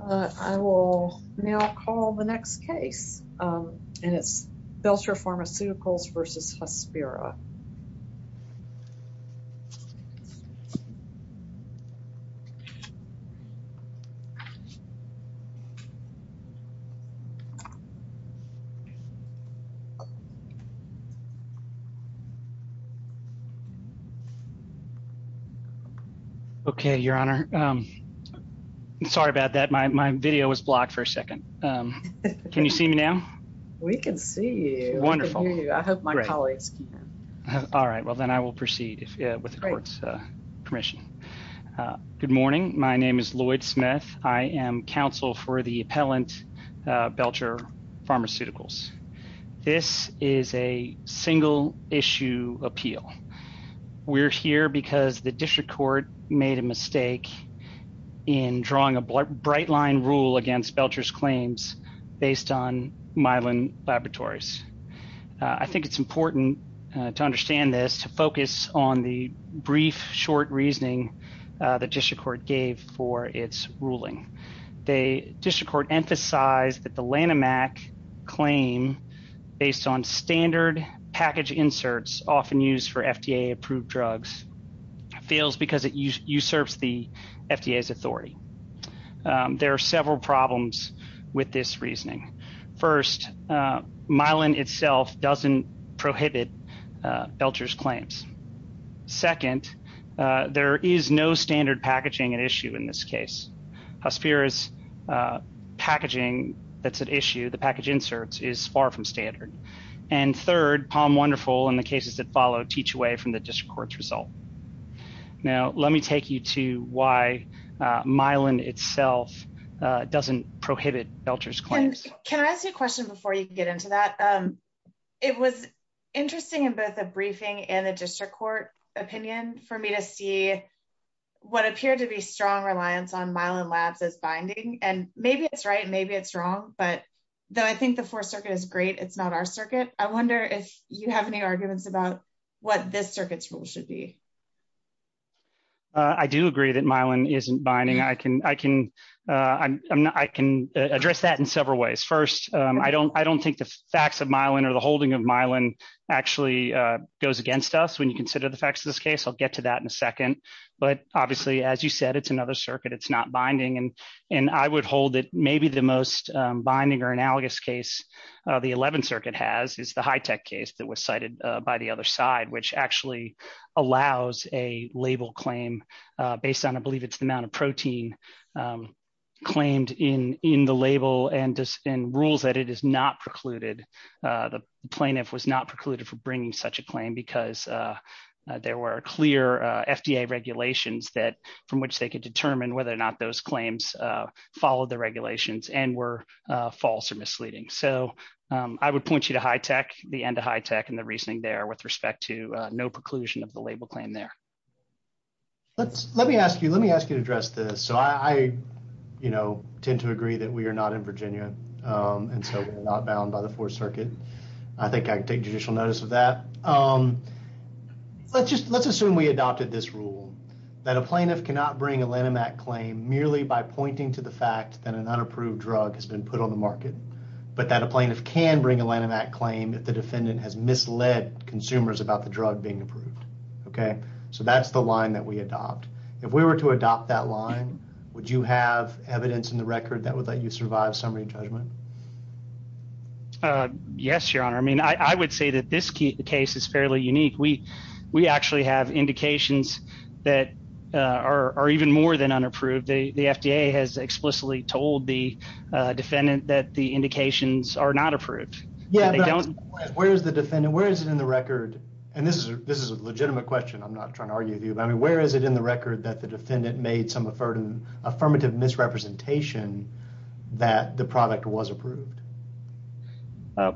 I will now call the next case, and it's Belcher Pharmaceuticals v. Hospira. Okay, Your Honor, sorry about that. My video was blocked for a second. Can you see me now? We can see you. Wonderful. I can hear you. Great. My colleagues can hear me. All right. Well, then I will proceed with the court's permission. Good morning. My name is Lloyd Smith. I am counsel for the appellant, Belcher Pharmaceuticals. This is a single-issue appeal. We're here because the district court made a mistake in drawing a bright-line rule against Belcher's claims based on Mylan Laboratories. I think it's important to understand this, to focus on the brief, short reasoning the district court gave for its ruling. The district court emphasized that the Lanham Act claim based on standard package inserts often used for FDA-approved drugs fails because it usurps the FDA's authority. There are several problems with this reasoning. First, Mylan itself doesn't prohibit Belcher's claims. Second, there is no standard packaging at issue in this case. Hospir's packaging that's at issue, the package inserts, is far from standard. And third, Palm Wonderful and the cases that follow teach away from the district court's result. Now, let me take you to why Mylan itself doesn't prohibit Belcher's claims. Can I ask you a question before you get into that? It was interesting in both a briefing and a district court opinion for me to see what appeared to be strong reliance on Mylan Labs as binding. And maybe it's right, maybe it's wrong, but though I think the Fourth Circuit is great, it's not our circuit. I wonder if you have any arguments about what this circuit's rule should be. I do agree that Mylan isn't binding. I can address that in several ways. First, I don't think the facts of Mylan or the holding of Mylan actually goes against us when you consider the facts of this case. I'll get to that in a second. But obviously, as you said, it's another circuit. It's not binding. I would hold that maybe the most binding or analogous case the 11th Circuit has is the Hitech case that was cited by the other side, which actually allows a label claim based on I believe it's the amount of protein claimed in the label and rules that it is not precluded. The plaintiff was not precluded for bringing such a claim because there were clear FDA regulations from which they could determine whether or not those claims followed the regulations and were false or misleading. So I would point you to Hitech, the end of Hitech, and the reasoning there with respect to no preclusion of the label claim there. Let me ask you to address this. So I tend to agree that we are not in Virginia, and so we're not bound by the Fourth Circuit. I think I can take judicial notice of that. Let's assume we adopted this rule that a plaintiff cannot bring a Lanham Act claim merely by pointing to the fact that an unapproved drug has been put on the market, but that a plaintiff can bring a Lanham Act claim if the defendant has misled consumers about the drug being approved. Okay? So that's the line that we adopt. If we were to adopt that line, would you have evidence in the record that would let you survive summary judgment? Yes, Your Honor. I mean, I would say that this case is fairly unique. We actually have indications that are even more than unapproved. The FDA has explicitly told the defendant that the indications are not approved. Yeah, but where is the defendant, where is it in the record, and this is a legitimate question, I'm not trying to argue with you, but I mean, where is it in the record that the defendant made some affirmative misrepresentation that the product was approved?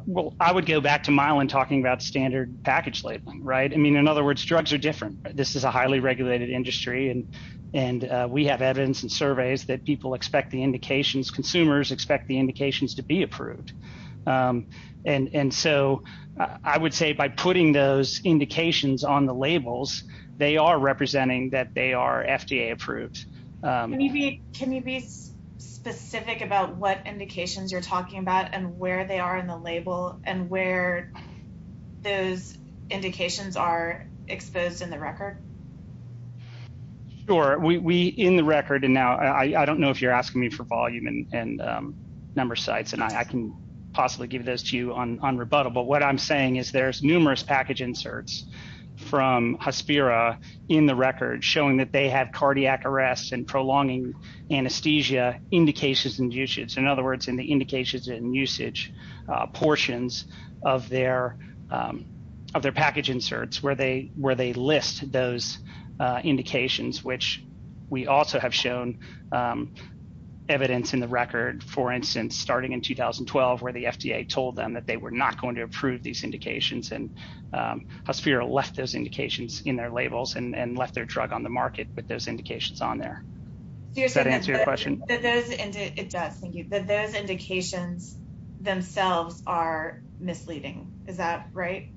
Well, I would go back to Mylon talking about standard package labeling, right? I mean, in other words, drugs are different. This is a highly regulated industry, and we have evidence and surveys that people expect the indications, consumers expect the indications to be approved. And so I would say by putting those indications on the labels, they are representing that they are FDA approved. Can you be specific about what indications you're talking about and where they are in the label and where those indications are exposed in the record? Sure, in the record, and now I don't know if you're asking me for volume and number sites and I can possibly give those to you on rebuttal, but what I'm saying is there's the record showing that they have cardiac arrest and prolonging anesthesia indications and usage. In other words, in the indications and usage portions of their package inserts where they list those indications, which we also have shown evidence in the record, for instance, starting in 2012 where the FDA told them that they were not going to approve these indications and Hospital left those indications in their labels and left their drug on the market with those indications on there. Does that answer your question? It does. Thank you. But those indications themselves are misleading. Is that right?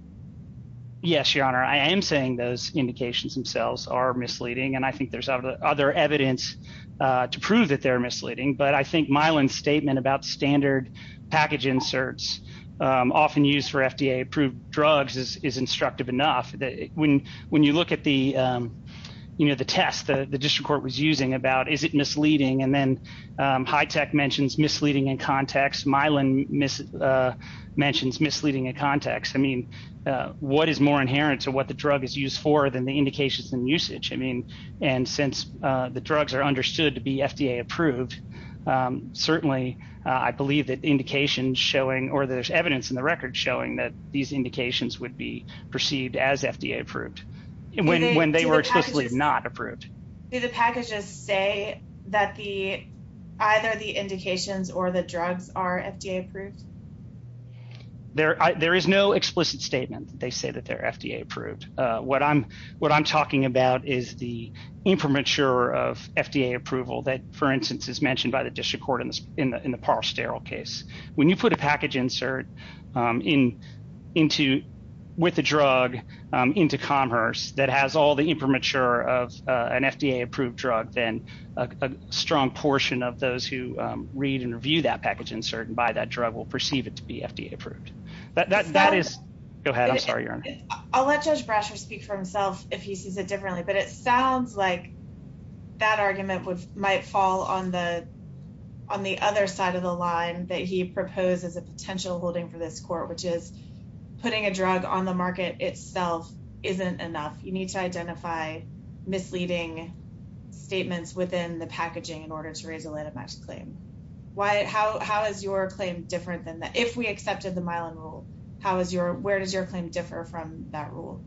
Yes, Your Honor, I am saying those indications themselves are misleading. And I think there's other evidence to prove that they're misleading. But I think Mylan's statement about standard package inserts often used for FDA-approved drugs is instructive enough. When you look at the test the district court was using about is it misleading, and then HITECH mentions misleading in context, Mylan mentions misleading in context, I mean, what is more inherent to what the drug is used for than the indications and usage? And since the drugs are understood to be FDA-approved, certainly I believe that indications showing or there's evidence in the record showing that these indications would be perceived as FDA-approved when they were explicitly not approved. Do the packages say that either the indications or the drugs are FDA-approved? There is no explicit statement that they say that they're FDA-approved. What I'm talking about is the imprimatur of FDA approval that, for instance, is mentioned by the district court in the Parler sterile case. When you put a package insert with a drug into Commerce that has all the imprimatur of an FDA-approved drug, then a strong portion of those who read and review that package insert and buy that drug will perceive it to be FDA-approved. That is... Go ahead, I'm sorry, Your Honor. I'll let Judge Brasher speak for himself if he sees it differently, but it sounds like that argument might fall on the other side of the line that he proposed as a potential holding for this court, which is putting a drug on the market itself isn't enough. You need to identify misleading statements within the packaging in order to raise a late-of-match claim. How is your claim different than that? If we accepted the Mylan rule, where does your claim differ from that rule?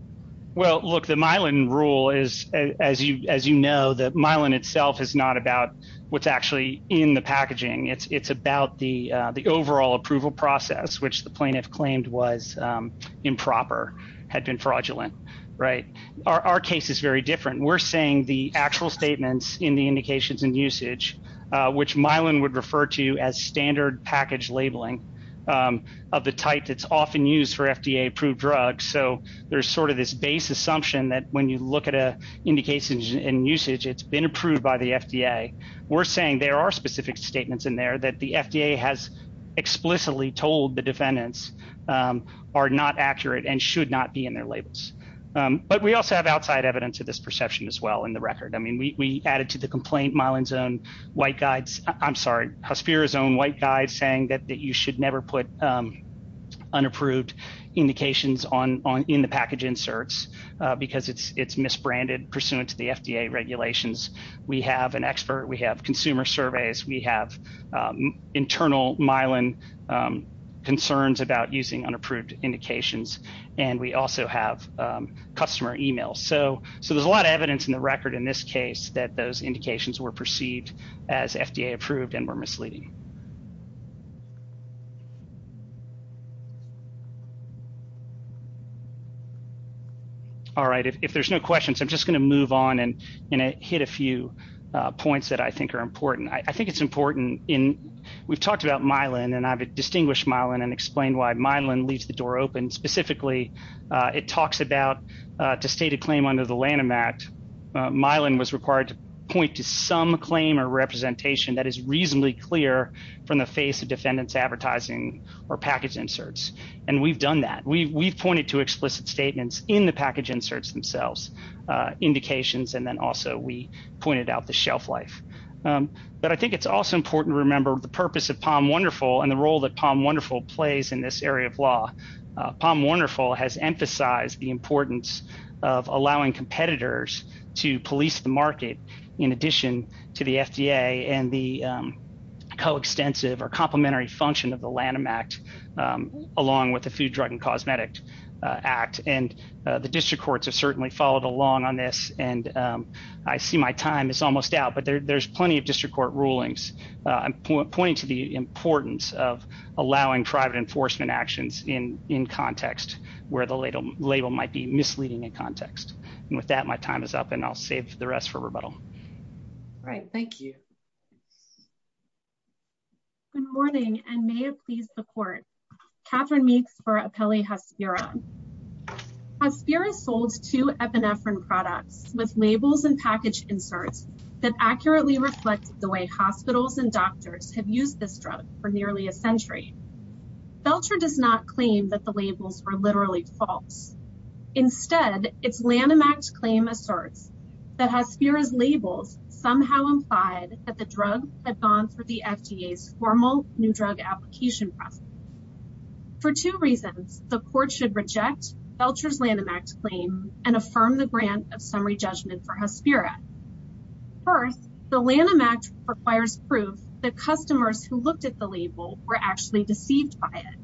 Well, look, the Mylan rule is, as you know, the Mylan itself is not about what's actually in the packaging. It's about the overall approval process, which the plaintiff claimed was improper, had been fraudulent. Our case is very different. We're saying the actual statements in the indications and usage, which Mylan would refer to as standard package labeling of the type that's often used for FDA-approved drugs. So there's sort of this base assumption that when you look at an indication and usage, it's been approved by the FDA. We're saying there are specific statements in there that the FDA has explicitly told the defendants are not accurate and should not be in their labels. But we also have outside evidence of this perception as well in the record. We added to the complaint Mylan's own white guides, I'm sorry, Hospira's own white guides saying that you should never put unapproved indications in the package inserts because it's misbranded pursuant to the FDA regulations. We have an expert. We have consumer surveys. We have internal Mylan concerns about using unapproved indications. And we also have customer emails. So there's a lot of evidence in the record in this case that those indications were perceived as FDA-approved and were misleading. All right, if there's no questions, I'm just going to move on and hit a few points that I think are important. I think it's important in, we've talked about Mylan and I've distinguished Mylan and explained why Mylan leaves the door open. Specifically, it talks about to state a claim under the Lanham Act, Mylan was required to point to some claim or representation that is reasonably clear from the face of defendants advertising or package inserts. And we've done that. We've pointed to explicit statements in the package inserts themselves, indications, and then also we pointed out the shelf life. But I think it's also important to remember the purpose of Palm Wonderful and the role that Palm Wonderful plays in this area of law. Palm Wonderful has emphasized the importance of allowing competitors to police the market in addition to the FDA and the coextensive or complementary function of the Lanham Act along with the Food, Drug, and Cosmetic Act. And the district courts have certainly followed along on this. And I see my time is almost out, but there's plenty of district court rulings pointing to the importance of allowing private enforcement actions in context where the label might be misleading in context. And with that, my time is up and I'll save the rest for rebuttal. All right. Thank you. Good morning, and may it please the court, Katherine Meeks for Apelli Haspira. Haspira sold two epinephrine products with labels and package inserts that accurately reflected the way hospitals and doctors have used this drug for nearly a century. Felcher does not claim that the labels were literally false. Instead, its Lanham Act claim asserts that Haspira's labels somehow implied that the drug had gone through the FDA's formal new drug application process. For two reasons, the court should reject Felcher's Lanham Act claim and affirm the grant of summary judgment for Haspira. First, the Lanham Act requires proof that customers who looked at the label were actually deceived by it.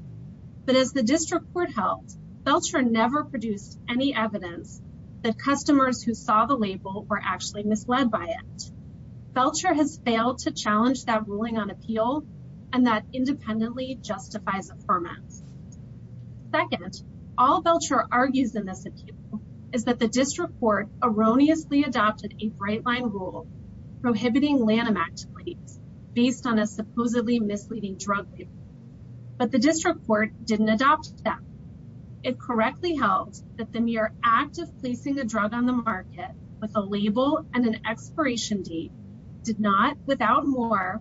But as the district court held, Felcher never produced any evidence that customers who saw the label were actually misled by it. Felcher has failed to challenge that ruling on appeal, and that independently justifies affirmance. Second, all Felcher argues in this appeal is that the district court erroneously adopted a bright-line rule prohibiting Lanham Act claims based on a supposedly misleading drug label, but the district court didn't adopt that. It correctly held that the mere act of placing a drug on the market with a label and an expiration date did not, without more,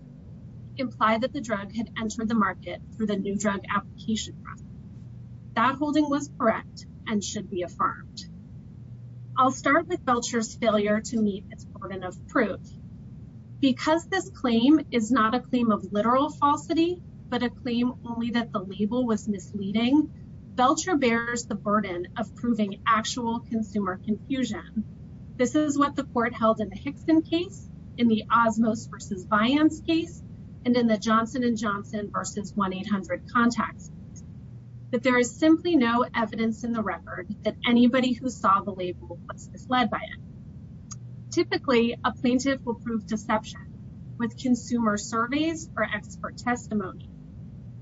imply that the drug had entered the market through the new drug application process. That holding was correct and should be affirmed. I'll start with Felcher's failure to meet its burden of proof. Because this claim is not a claim of literal falsity, but a claim only that the label was misleading, Felcher bears the burden of proving actual consumer confusion. This is what the court held in the Hickson case, in the Osmos v. Viance case, and in the Johnson & Johnson v. 1-800 contacts case, that there is simply no evidence in the record that anybody who saw the label was misled by it. Typically, a plaintiff will prove deception with consumer surveys or expert testimony.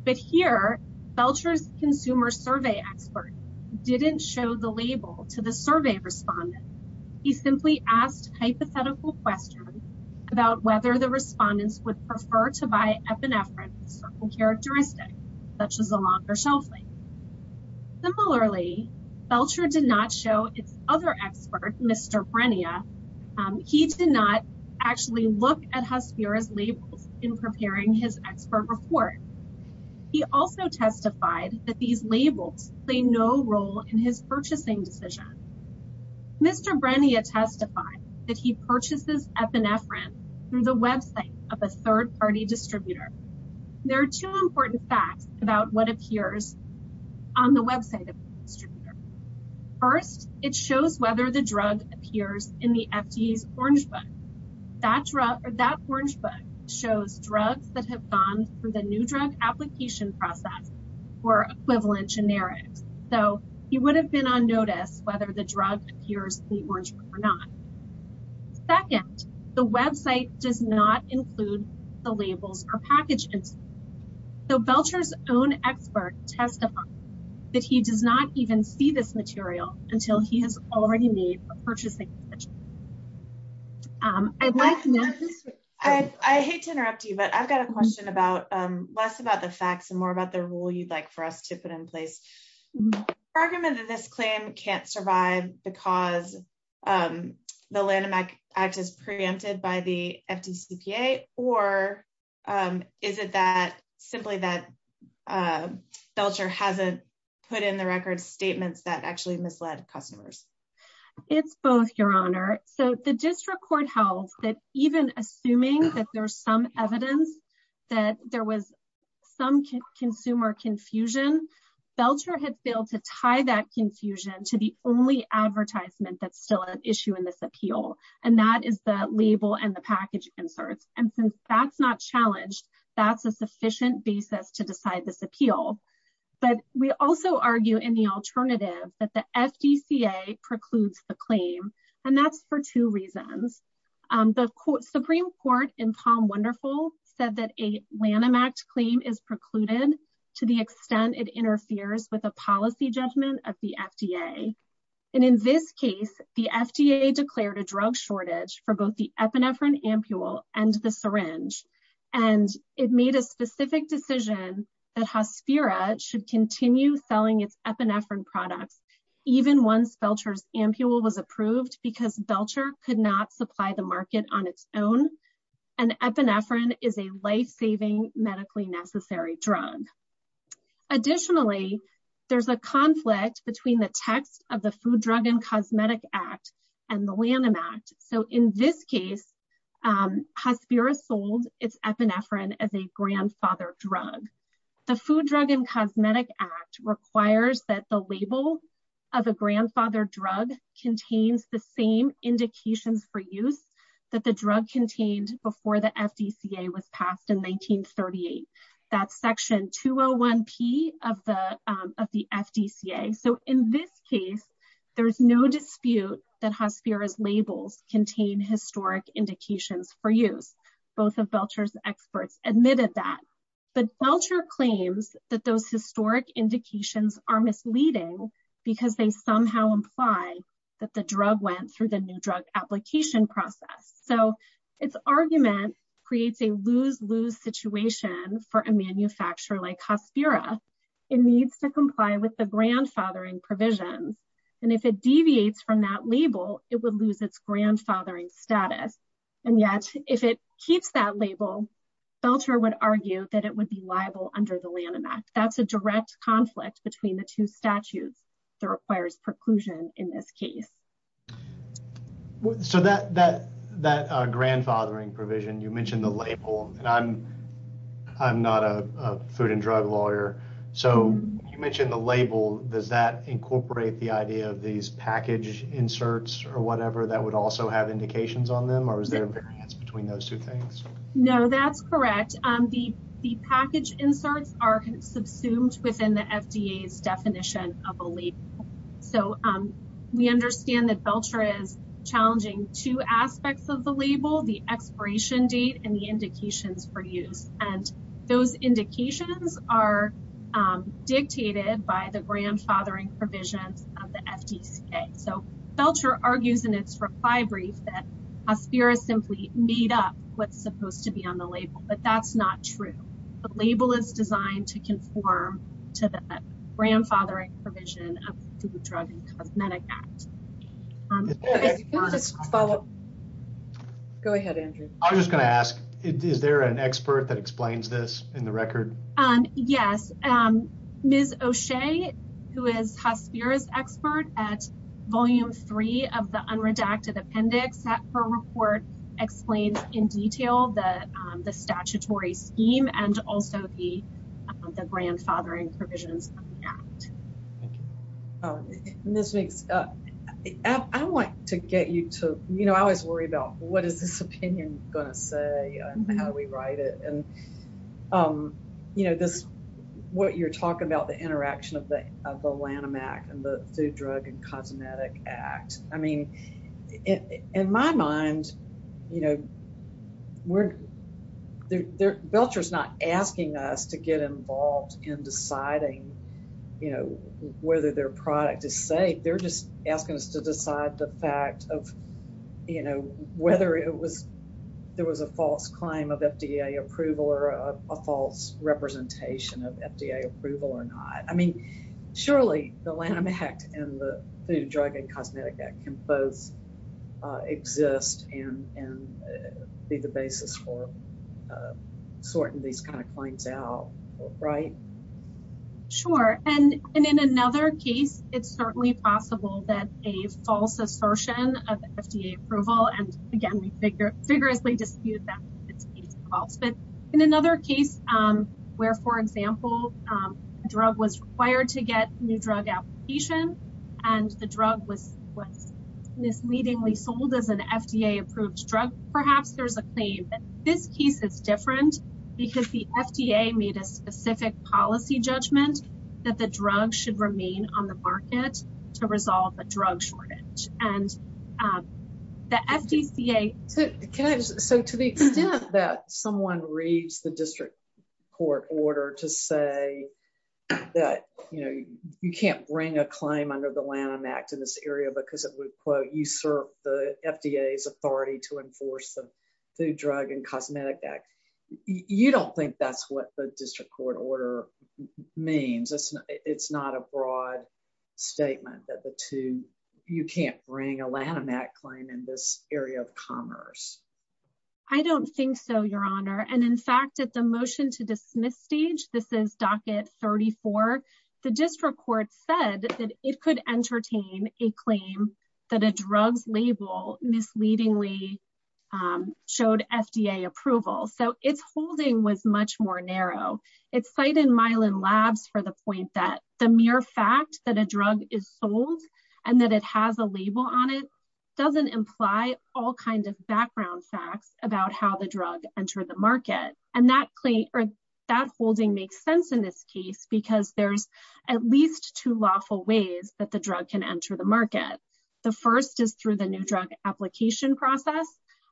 But here, Felcher's consumer survey expert didn't show the label to the survey respondent. He simply asked hypothetical questions about whether the respondents would prefer to buy epinephrine with a certain characteristic, such as a longer shelf life. Similarly, Felcher did not show its other expert, Mr. Brenia, he did not actually look at Hasbira's labels in preparing his expert report. He also testified that these labels play no role in his purchasing decision. Mr. Brenia testified that he purchases epinephrine through the website of a third-party distributor. There are two important facts about what appears on the website of the distributor. First, it shows whether the drug appears in the FDA's orange book. That orange book shows drugs that have gone through the new drug application process were equivalent generics, so he would have been on notice whether the drug appears in the orange book or not. Second, the website does not include the labels or package. So, Felcher's own expert testified that he does not even see this material until he has already made a purchasing decision. I'd like to know... I hate to interrupt you, but I've got a question about less about the facts and more about the rule you'd like for us to put in place. The argument that this claim can't survive because the Lanham Act is preempted by the FDCPA, or is it that simply that Felcher hasn't put in the record statements that actually misled customers? It's both, Your Honor. So, the district court held that even assuming that there's some evidence that there was some consumer confusion, Felcher had failed to tie that confusion to the only advertisement that's still an issue in this appeal, and that is the label and the package inserts. And since that's not challenged, that's a sufficient basis to decide this appeal. But we also argue in the alternative that the FDCPA precludes the claim, and that's for two reasons. The Supreme Court in Palm Wonderful said that a Lanham Act claim is precluded to the extent it interferes with a policy judgment of the FDA. And in this case, the FDA declared a drug shortage for both the epinephrine ampoule and the syringe, and it made a specific decision that Hospira should continue selling its epinephrine products even once Felcher's ampoule was approved because Felcher could not supply the market on its own, and epinephrine is a life-saving, medically necessary drug. Additionally, there's a conflict between the text of the Food, Drug, and Cosmetic Act and the Lanham Act. So in this case, Hospira sold its epinephrine as a grandfather drug. The Food, Drug, and Cosmetic Act requires that the label of a grandfather drug contains the same indications for use that the drug contained before the FDCA was passed in 1938. That's section 201P of the FDCA. So in this case, there's no dispute that Hospira's labels contain historic indications for use. Both of Felcher's experts admitted that, but Felcher claims that those historic indications are misleading because they somehow imply that the drug went through the new drug application process. So its argument creates a lose-lose situation for a manufacturer like Hospira. It needs to comply with the grandfathering provisions, and if it deviates from that label, it would lose its grandfathering status. And yet, if it keeps that label, Felcher would argue that it would be liable under the Lanham Act. That's a direct conflict between the two statutes that requires preclusion in this case. So that grandfathering provision, you mentioned the label, and I'm not a food and drug lawyer, so you mentioned the label. Does that incorporate the idea of these package inserts or whatever that would also have indications on them? Or is there a variance between those two things? No, that's correct. The package inserts are subsumed within the FDA's definition of a label. So we understand that Felcher is challenging two aspects of the label, the expiration date and the indications for use. And those indications are dictated by the grandfathering provisions of the FDCA. So Felcher argues in its reply brief that Hospira simply made up what's supposed to be on the label, but that's not true. The label is designed to conform to the grandfathering provision of the Food, Drug, and Cosmetic Act. Can I just follow up? Go ahead, Andrew. I was just going to ask, is there an expert that explains this in the record? Yes. Ms. O'Shea, who is Hospira's expert at Volume 3 of the Unredacted Appendix, her report explains in detail the statutory scheme and also the grandfathering provisions of the Act. Thank you. Ms. Meeks, I want to get you to, you know, I always worry about what is this opinion going to say and how do we write it? And, you know, what you're talking about, the interaction of the Lanham Act and the Food, Drug, and Cosmetic Act. I mean, in my mind, you know, Felcher's not asking us to get involved in deciding, you know, whether their product is safe. They're just asking us to decide the fact of, you know, whether it was, there was a false claim of FDA approval or a false representation of FDA approval or not. I mean, surely the Lanham Act and the Food, Drug, and Cosmetic Act can both exist and be the basis for sorting these kind of claims out, right? Sure. And in another case, it's certainly possible that a false assertion of FDA approval, and again, we vigorously dispute that it's false. But in another case where, for example, a drug was required to get a new drug application and the drug was misleadingly sold as an FDA-approved drug, perhaps there's a claim. This case is different because the FDA made a specific policy judgment that the drug should remain on the market to resolve a drug shortage. And the FDCA... So to the extent that someone reads the district court order to say that, you know, you can't bring a claim under the Lanham Act in this area because it would, quote, usurp the FDA's authority to enforce the Food, Drug, and Cosmetic Act, you don't think that's what the district court order means. It's not a broad statement that the two... You can't bring a Lanham Act claim in this area of commerce. I don't think so, Your Honor. And in fact, at the motion to dismiss stage, this is docket 34, the district court said that it could entertain a claim that a drug's label misleadingly showed FDA approval. So its holding was much more narrow. It's cited Mylan Labs for the point that the mere fact that a drug is sold and that it has a label on it doesn't imply all kinds of background facts about how the drug entered the market. And that holding makes sense in this case because there's at least two lawful ways that the drug can enter the market. The first is through the new drug application process,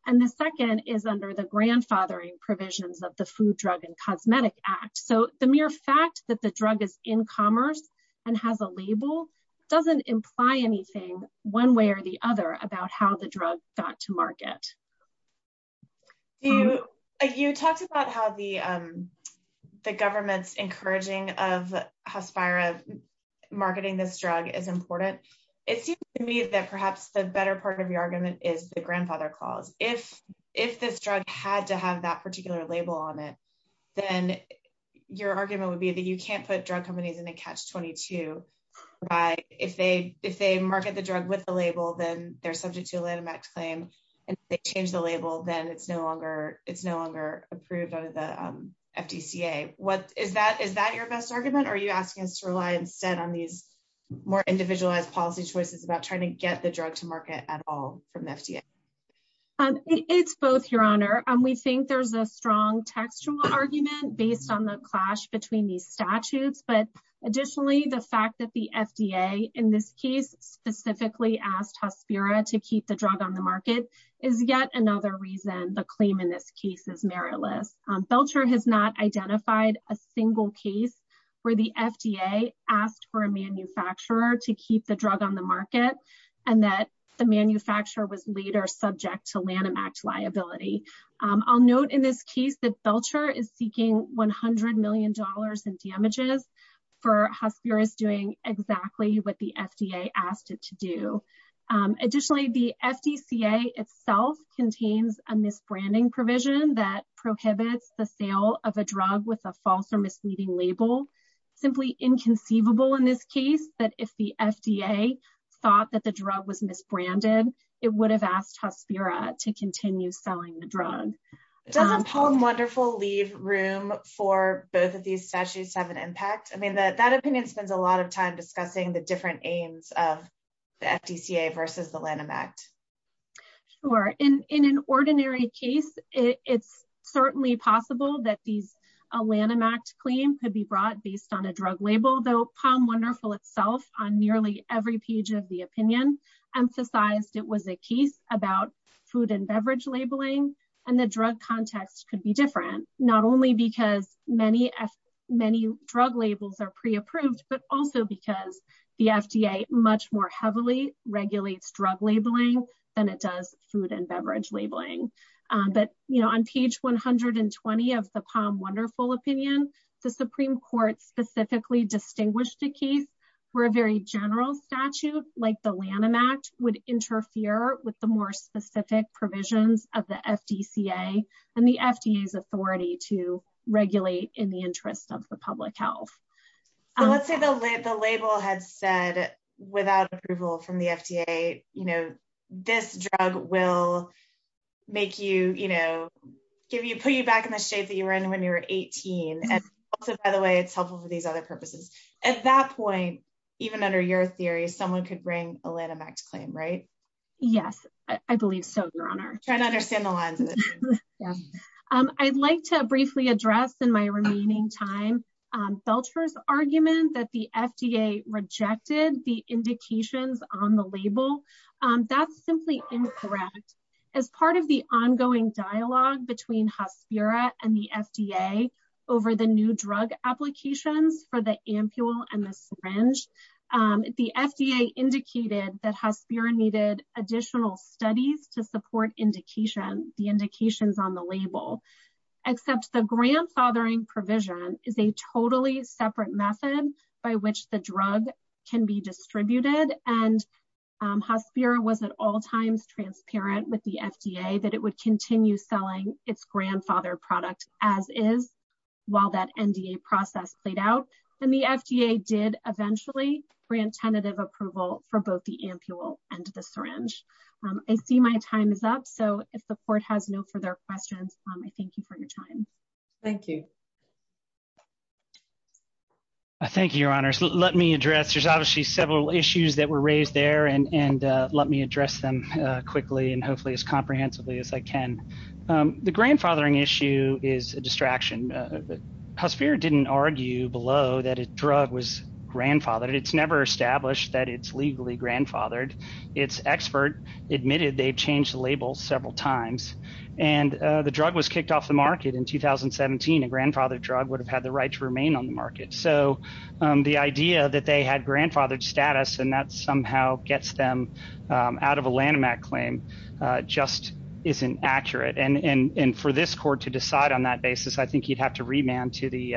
and the second is under the grandfathering provisions of the Food, Drug, and Cosmetic Act. So the mere fact that the drug is in commerce and has a label doesn't imply anything one way or the other about how the drug got to market. You talked about how the government's encouraging of Hespira marketing this drug is important. It seems to me that perhaps the better part of your argument is the grandfather clause. If this drug had to have that particular label on it, then your argument would be that you can't put drug companies in a catch-22 if they market the drug with the label, then they're subject to a Lanham Act claim. And if they change the label, then it's no longer approved under the FDCA. Is that your best argument, or are you asking us to rely instead on these more individualized policy choices about trying to get the drug to market at all from the FDA? It's both, Your Honor. We think there's a strong textual argument based on the clash between these statutes. But additionally, the fact that the FDA in this case specifically asked Hespira to keep the drug on the market is yet another reason the claim in this case is meritless. Belcher has not identified a single case where the FDA asked for a manufacturer to keep the drug on the market and that the manufacturer was later subject to Lanham Act liability. I'll note in this case that Belcher is seeking $100 million in damages for Hespira's doing exactly what the FDA asked it to do. Additionally, the FDCA itself contains a misbranding provision that prohibits the sale of a drug with a false or misleading label. Simply inconceivable in this case that if the FDA thought that the drug was misbranded, it would have asked Hespira to continue selling the drug. Does a wonderful leave room for both of these statutes have an impact? That opinion spends a lot of time discussing the different aims of the FDCA versus the Lanham Act. Sure. In an ordinary case, it's certainly possible that these Lanham Act claim could be brought based on a drug label, though Palm Wonderful itself on nearly every page of the opinion emphasized it was a case about food and beverage labeling and the drug context could be different. Not only because many drug labels are pre-approved, but also because the FDA much more heavily regulates drug labeling than it does food and beverage labeling. But on page 120 of the Palm Wonderful opinion, the Supreme Court specifically distinguished the case for a very general statute like the Lanham Act would interfere with the more specific provisions of the FDCA and the FDA's authority to regulate in the interest of the public health. Let's say the label had said without approval from the FDA, this drug will make you, put you back in the shape that you were in when you were 18. And also, by the way, it's helpful for these other purposes. At that point, even under your theory, someone could bring a Lanham Act claim, right? Yes, I believe so, Your Honor. Try to understand the lines of this. I'd like to briefly address in my remaining time Belcher's argument that the FDA rejected the indications on the label. That's simply incorrect. As part of the ongoing dialogue between Hospira and the FDA over the new drug applications for the ampule and the syringe, the FDA indicated that Hospira needed additional studies to support indication, the indications on the label, except the grandfathering provision is a totally separate method by which the drug can be distributed. And Hospira was at all times transparent with the FDA that it would continue selling its grandfather product as is while that NDA process played out. And the FDA did eventually grant tentative approval for both the ampule and the syringe. I see my time is up. So if the court has no further questions, I thank you for your time. Thank you. Thank you, Your Honor. Let me address, there's obviously several issues that were raised there and let me address them quickly and hopefully as comprehensively as I can. The grandfathering issue is a distraction. Hospira didn't argue below that a drug was grandfathered. It's never established that it's legally grandfathered. Its expert admitted they've changed the label several times. And the drug was kicked off the market in 2017. A grandfathered drug would have had the right to remain on the market. So the idea that they had grandfathered status and that somehow gets them out of a Lanhamac just isn't accurate. And for this court to decide on that basis, I think you'd have to remand to the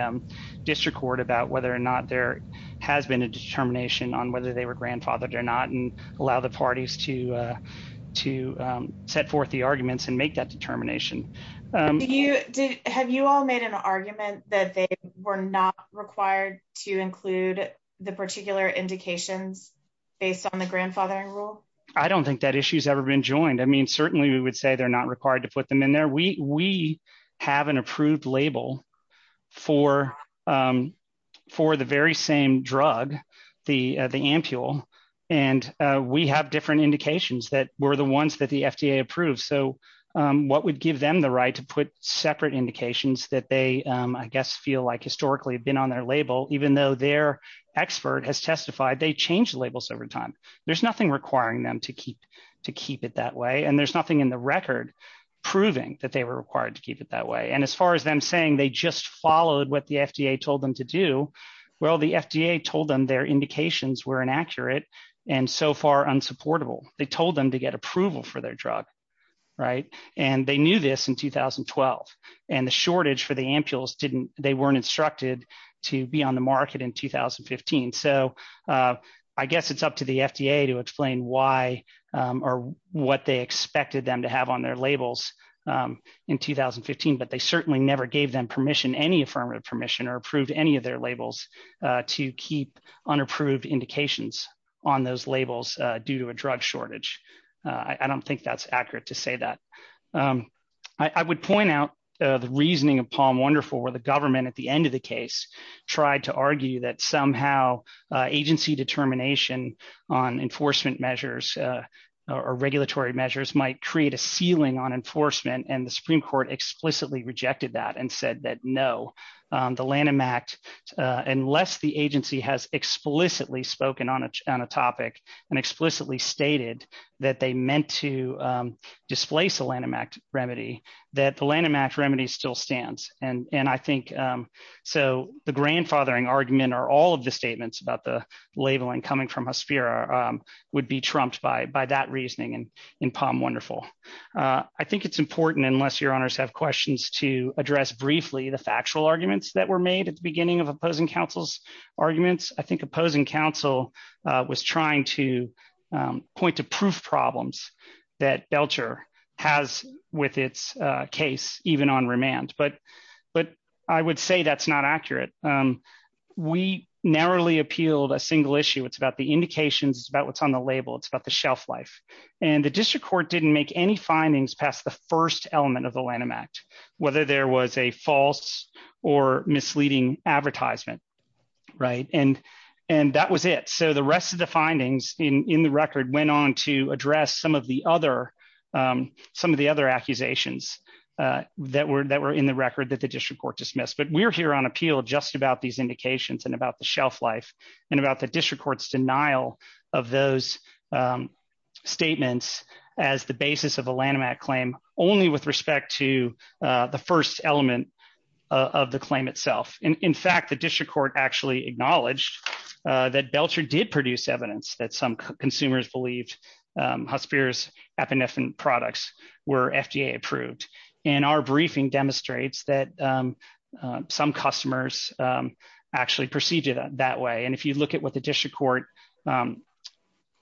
district court about whether or not there has been a determination on whether they were grandfathered or not and allow the parties to set forth the arguments and make that determination. Have you all made an argument that they were not required to include the particular indications based on the grandfathering rule? I don't think that issue has ever been joined. I mean, certainly we would say they're not required to put them in there. We have an approved label for the very same drug, the Ampule, and we have different indications that were the ones that the FDA approved. So what would give them the right to put separate indications that they, I guess, feel like historically have been on their label, even though their expert has testified they changed the labels over time? There's nothing requiring them to keep it that way. And there's nothing in the record proving that they were required to keep it that way. And as far as them saying they just followed what the FDA told them to do, well, the FDA told them their indications were inaccurate and so far unsupportable. They told them to get approval for their drug, right? And they knew this in 2012. And the shortage for the Ampules, they weren't instructed to be on the market in 2015. So I guess it's up to the FDA to explain why or what they expected them to have on their labels in 2015. But they certainly never gave them permission, any affirmative permission, or approved any of their labels to keep unapproved indications on those labels due to a drug shortage. I don't think that's accurate to say that. I would point out the reasoning of Palm Wonderful, where the government at the end of the case tried to argue that somehow agency determination on enforcement measures or regulatory measures might create a ceiling on enforcement. And the Supreme Court explicitly rejected that and said that no, the Lanham Act, unless the agency has explicitly spoken on a topic and explicitly stated that they meant to displace the Lanham Act remedy, that the Lanham Act remedy still stands. And I think so the grandfathering argument or all of the statements about the labeling coming from Hospira would be trumped by that reasoning in Palm Wonderful. I think it's important, unless your honors have questions, to address briefly the factual arguments that were made at the beginning of opposing counsel's arguments. I think opposing counsel was trying to point to proof problems that Belcher has with its case, even on remand. But I would say that's not accurate. We narrowly appealed a single issue. It's about the indications. It's about what's on the label. It's about the shelf life. And the district court didn't make any findings past the first element of the Lanham Act, whether there was a false or misleading advertisement. Right. And that was it. So the rest of the findings in the record went on to address some of the other accusations that were in the record that the district court dismissed. But we're here on appeal just about these indications and about the shelf life and about the district court's denial of those statements as the basis of a Lanham Act claim only with respect to the first element of the claim itself. In fact, the district court actually acknowledged that Belcher did produce evidence that some in our briefing demonstrates that some customers actually perceived it that way. And if you look at what the district court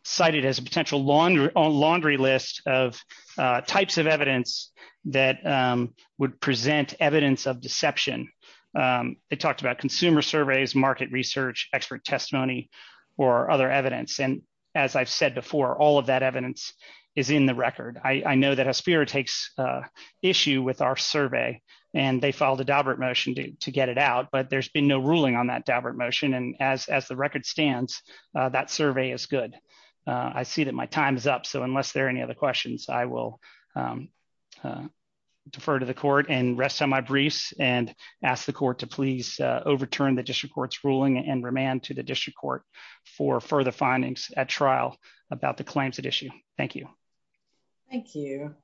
cited as a potential laundry list of types of evidence that would present evidence of deception, it talked about consumer surveys, market research, expert testimony, or other evidence. And as I've said before, all of that evidence is in the record. I know that Aspera takes issue with our survey and they filed a Daubert motion to get it out, but there's been no ruling on that Daubert motion. And as the record stands, that survey is good. I see that my time is up. So unless there are any other questions, I will defer to the court and rest on my briefs and ask the court to please overturn the district court's ruling and remand to the district court for further findings at trial about the claims at issue. Thank you. Thank you.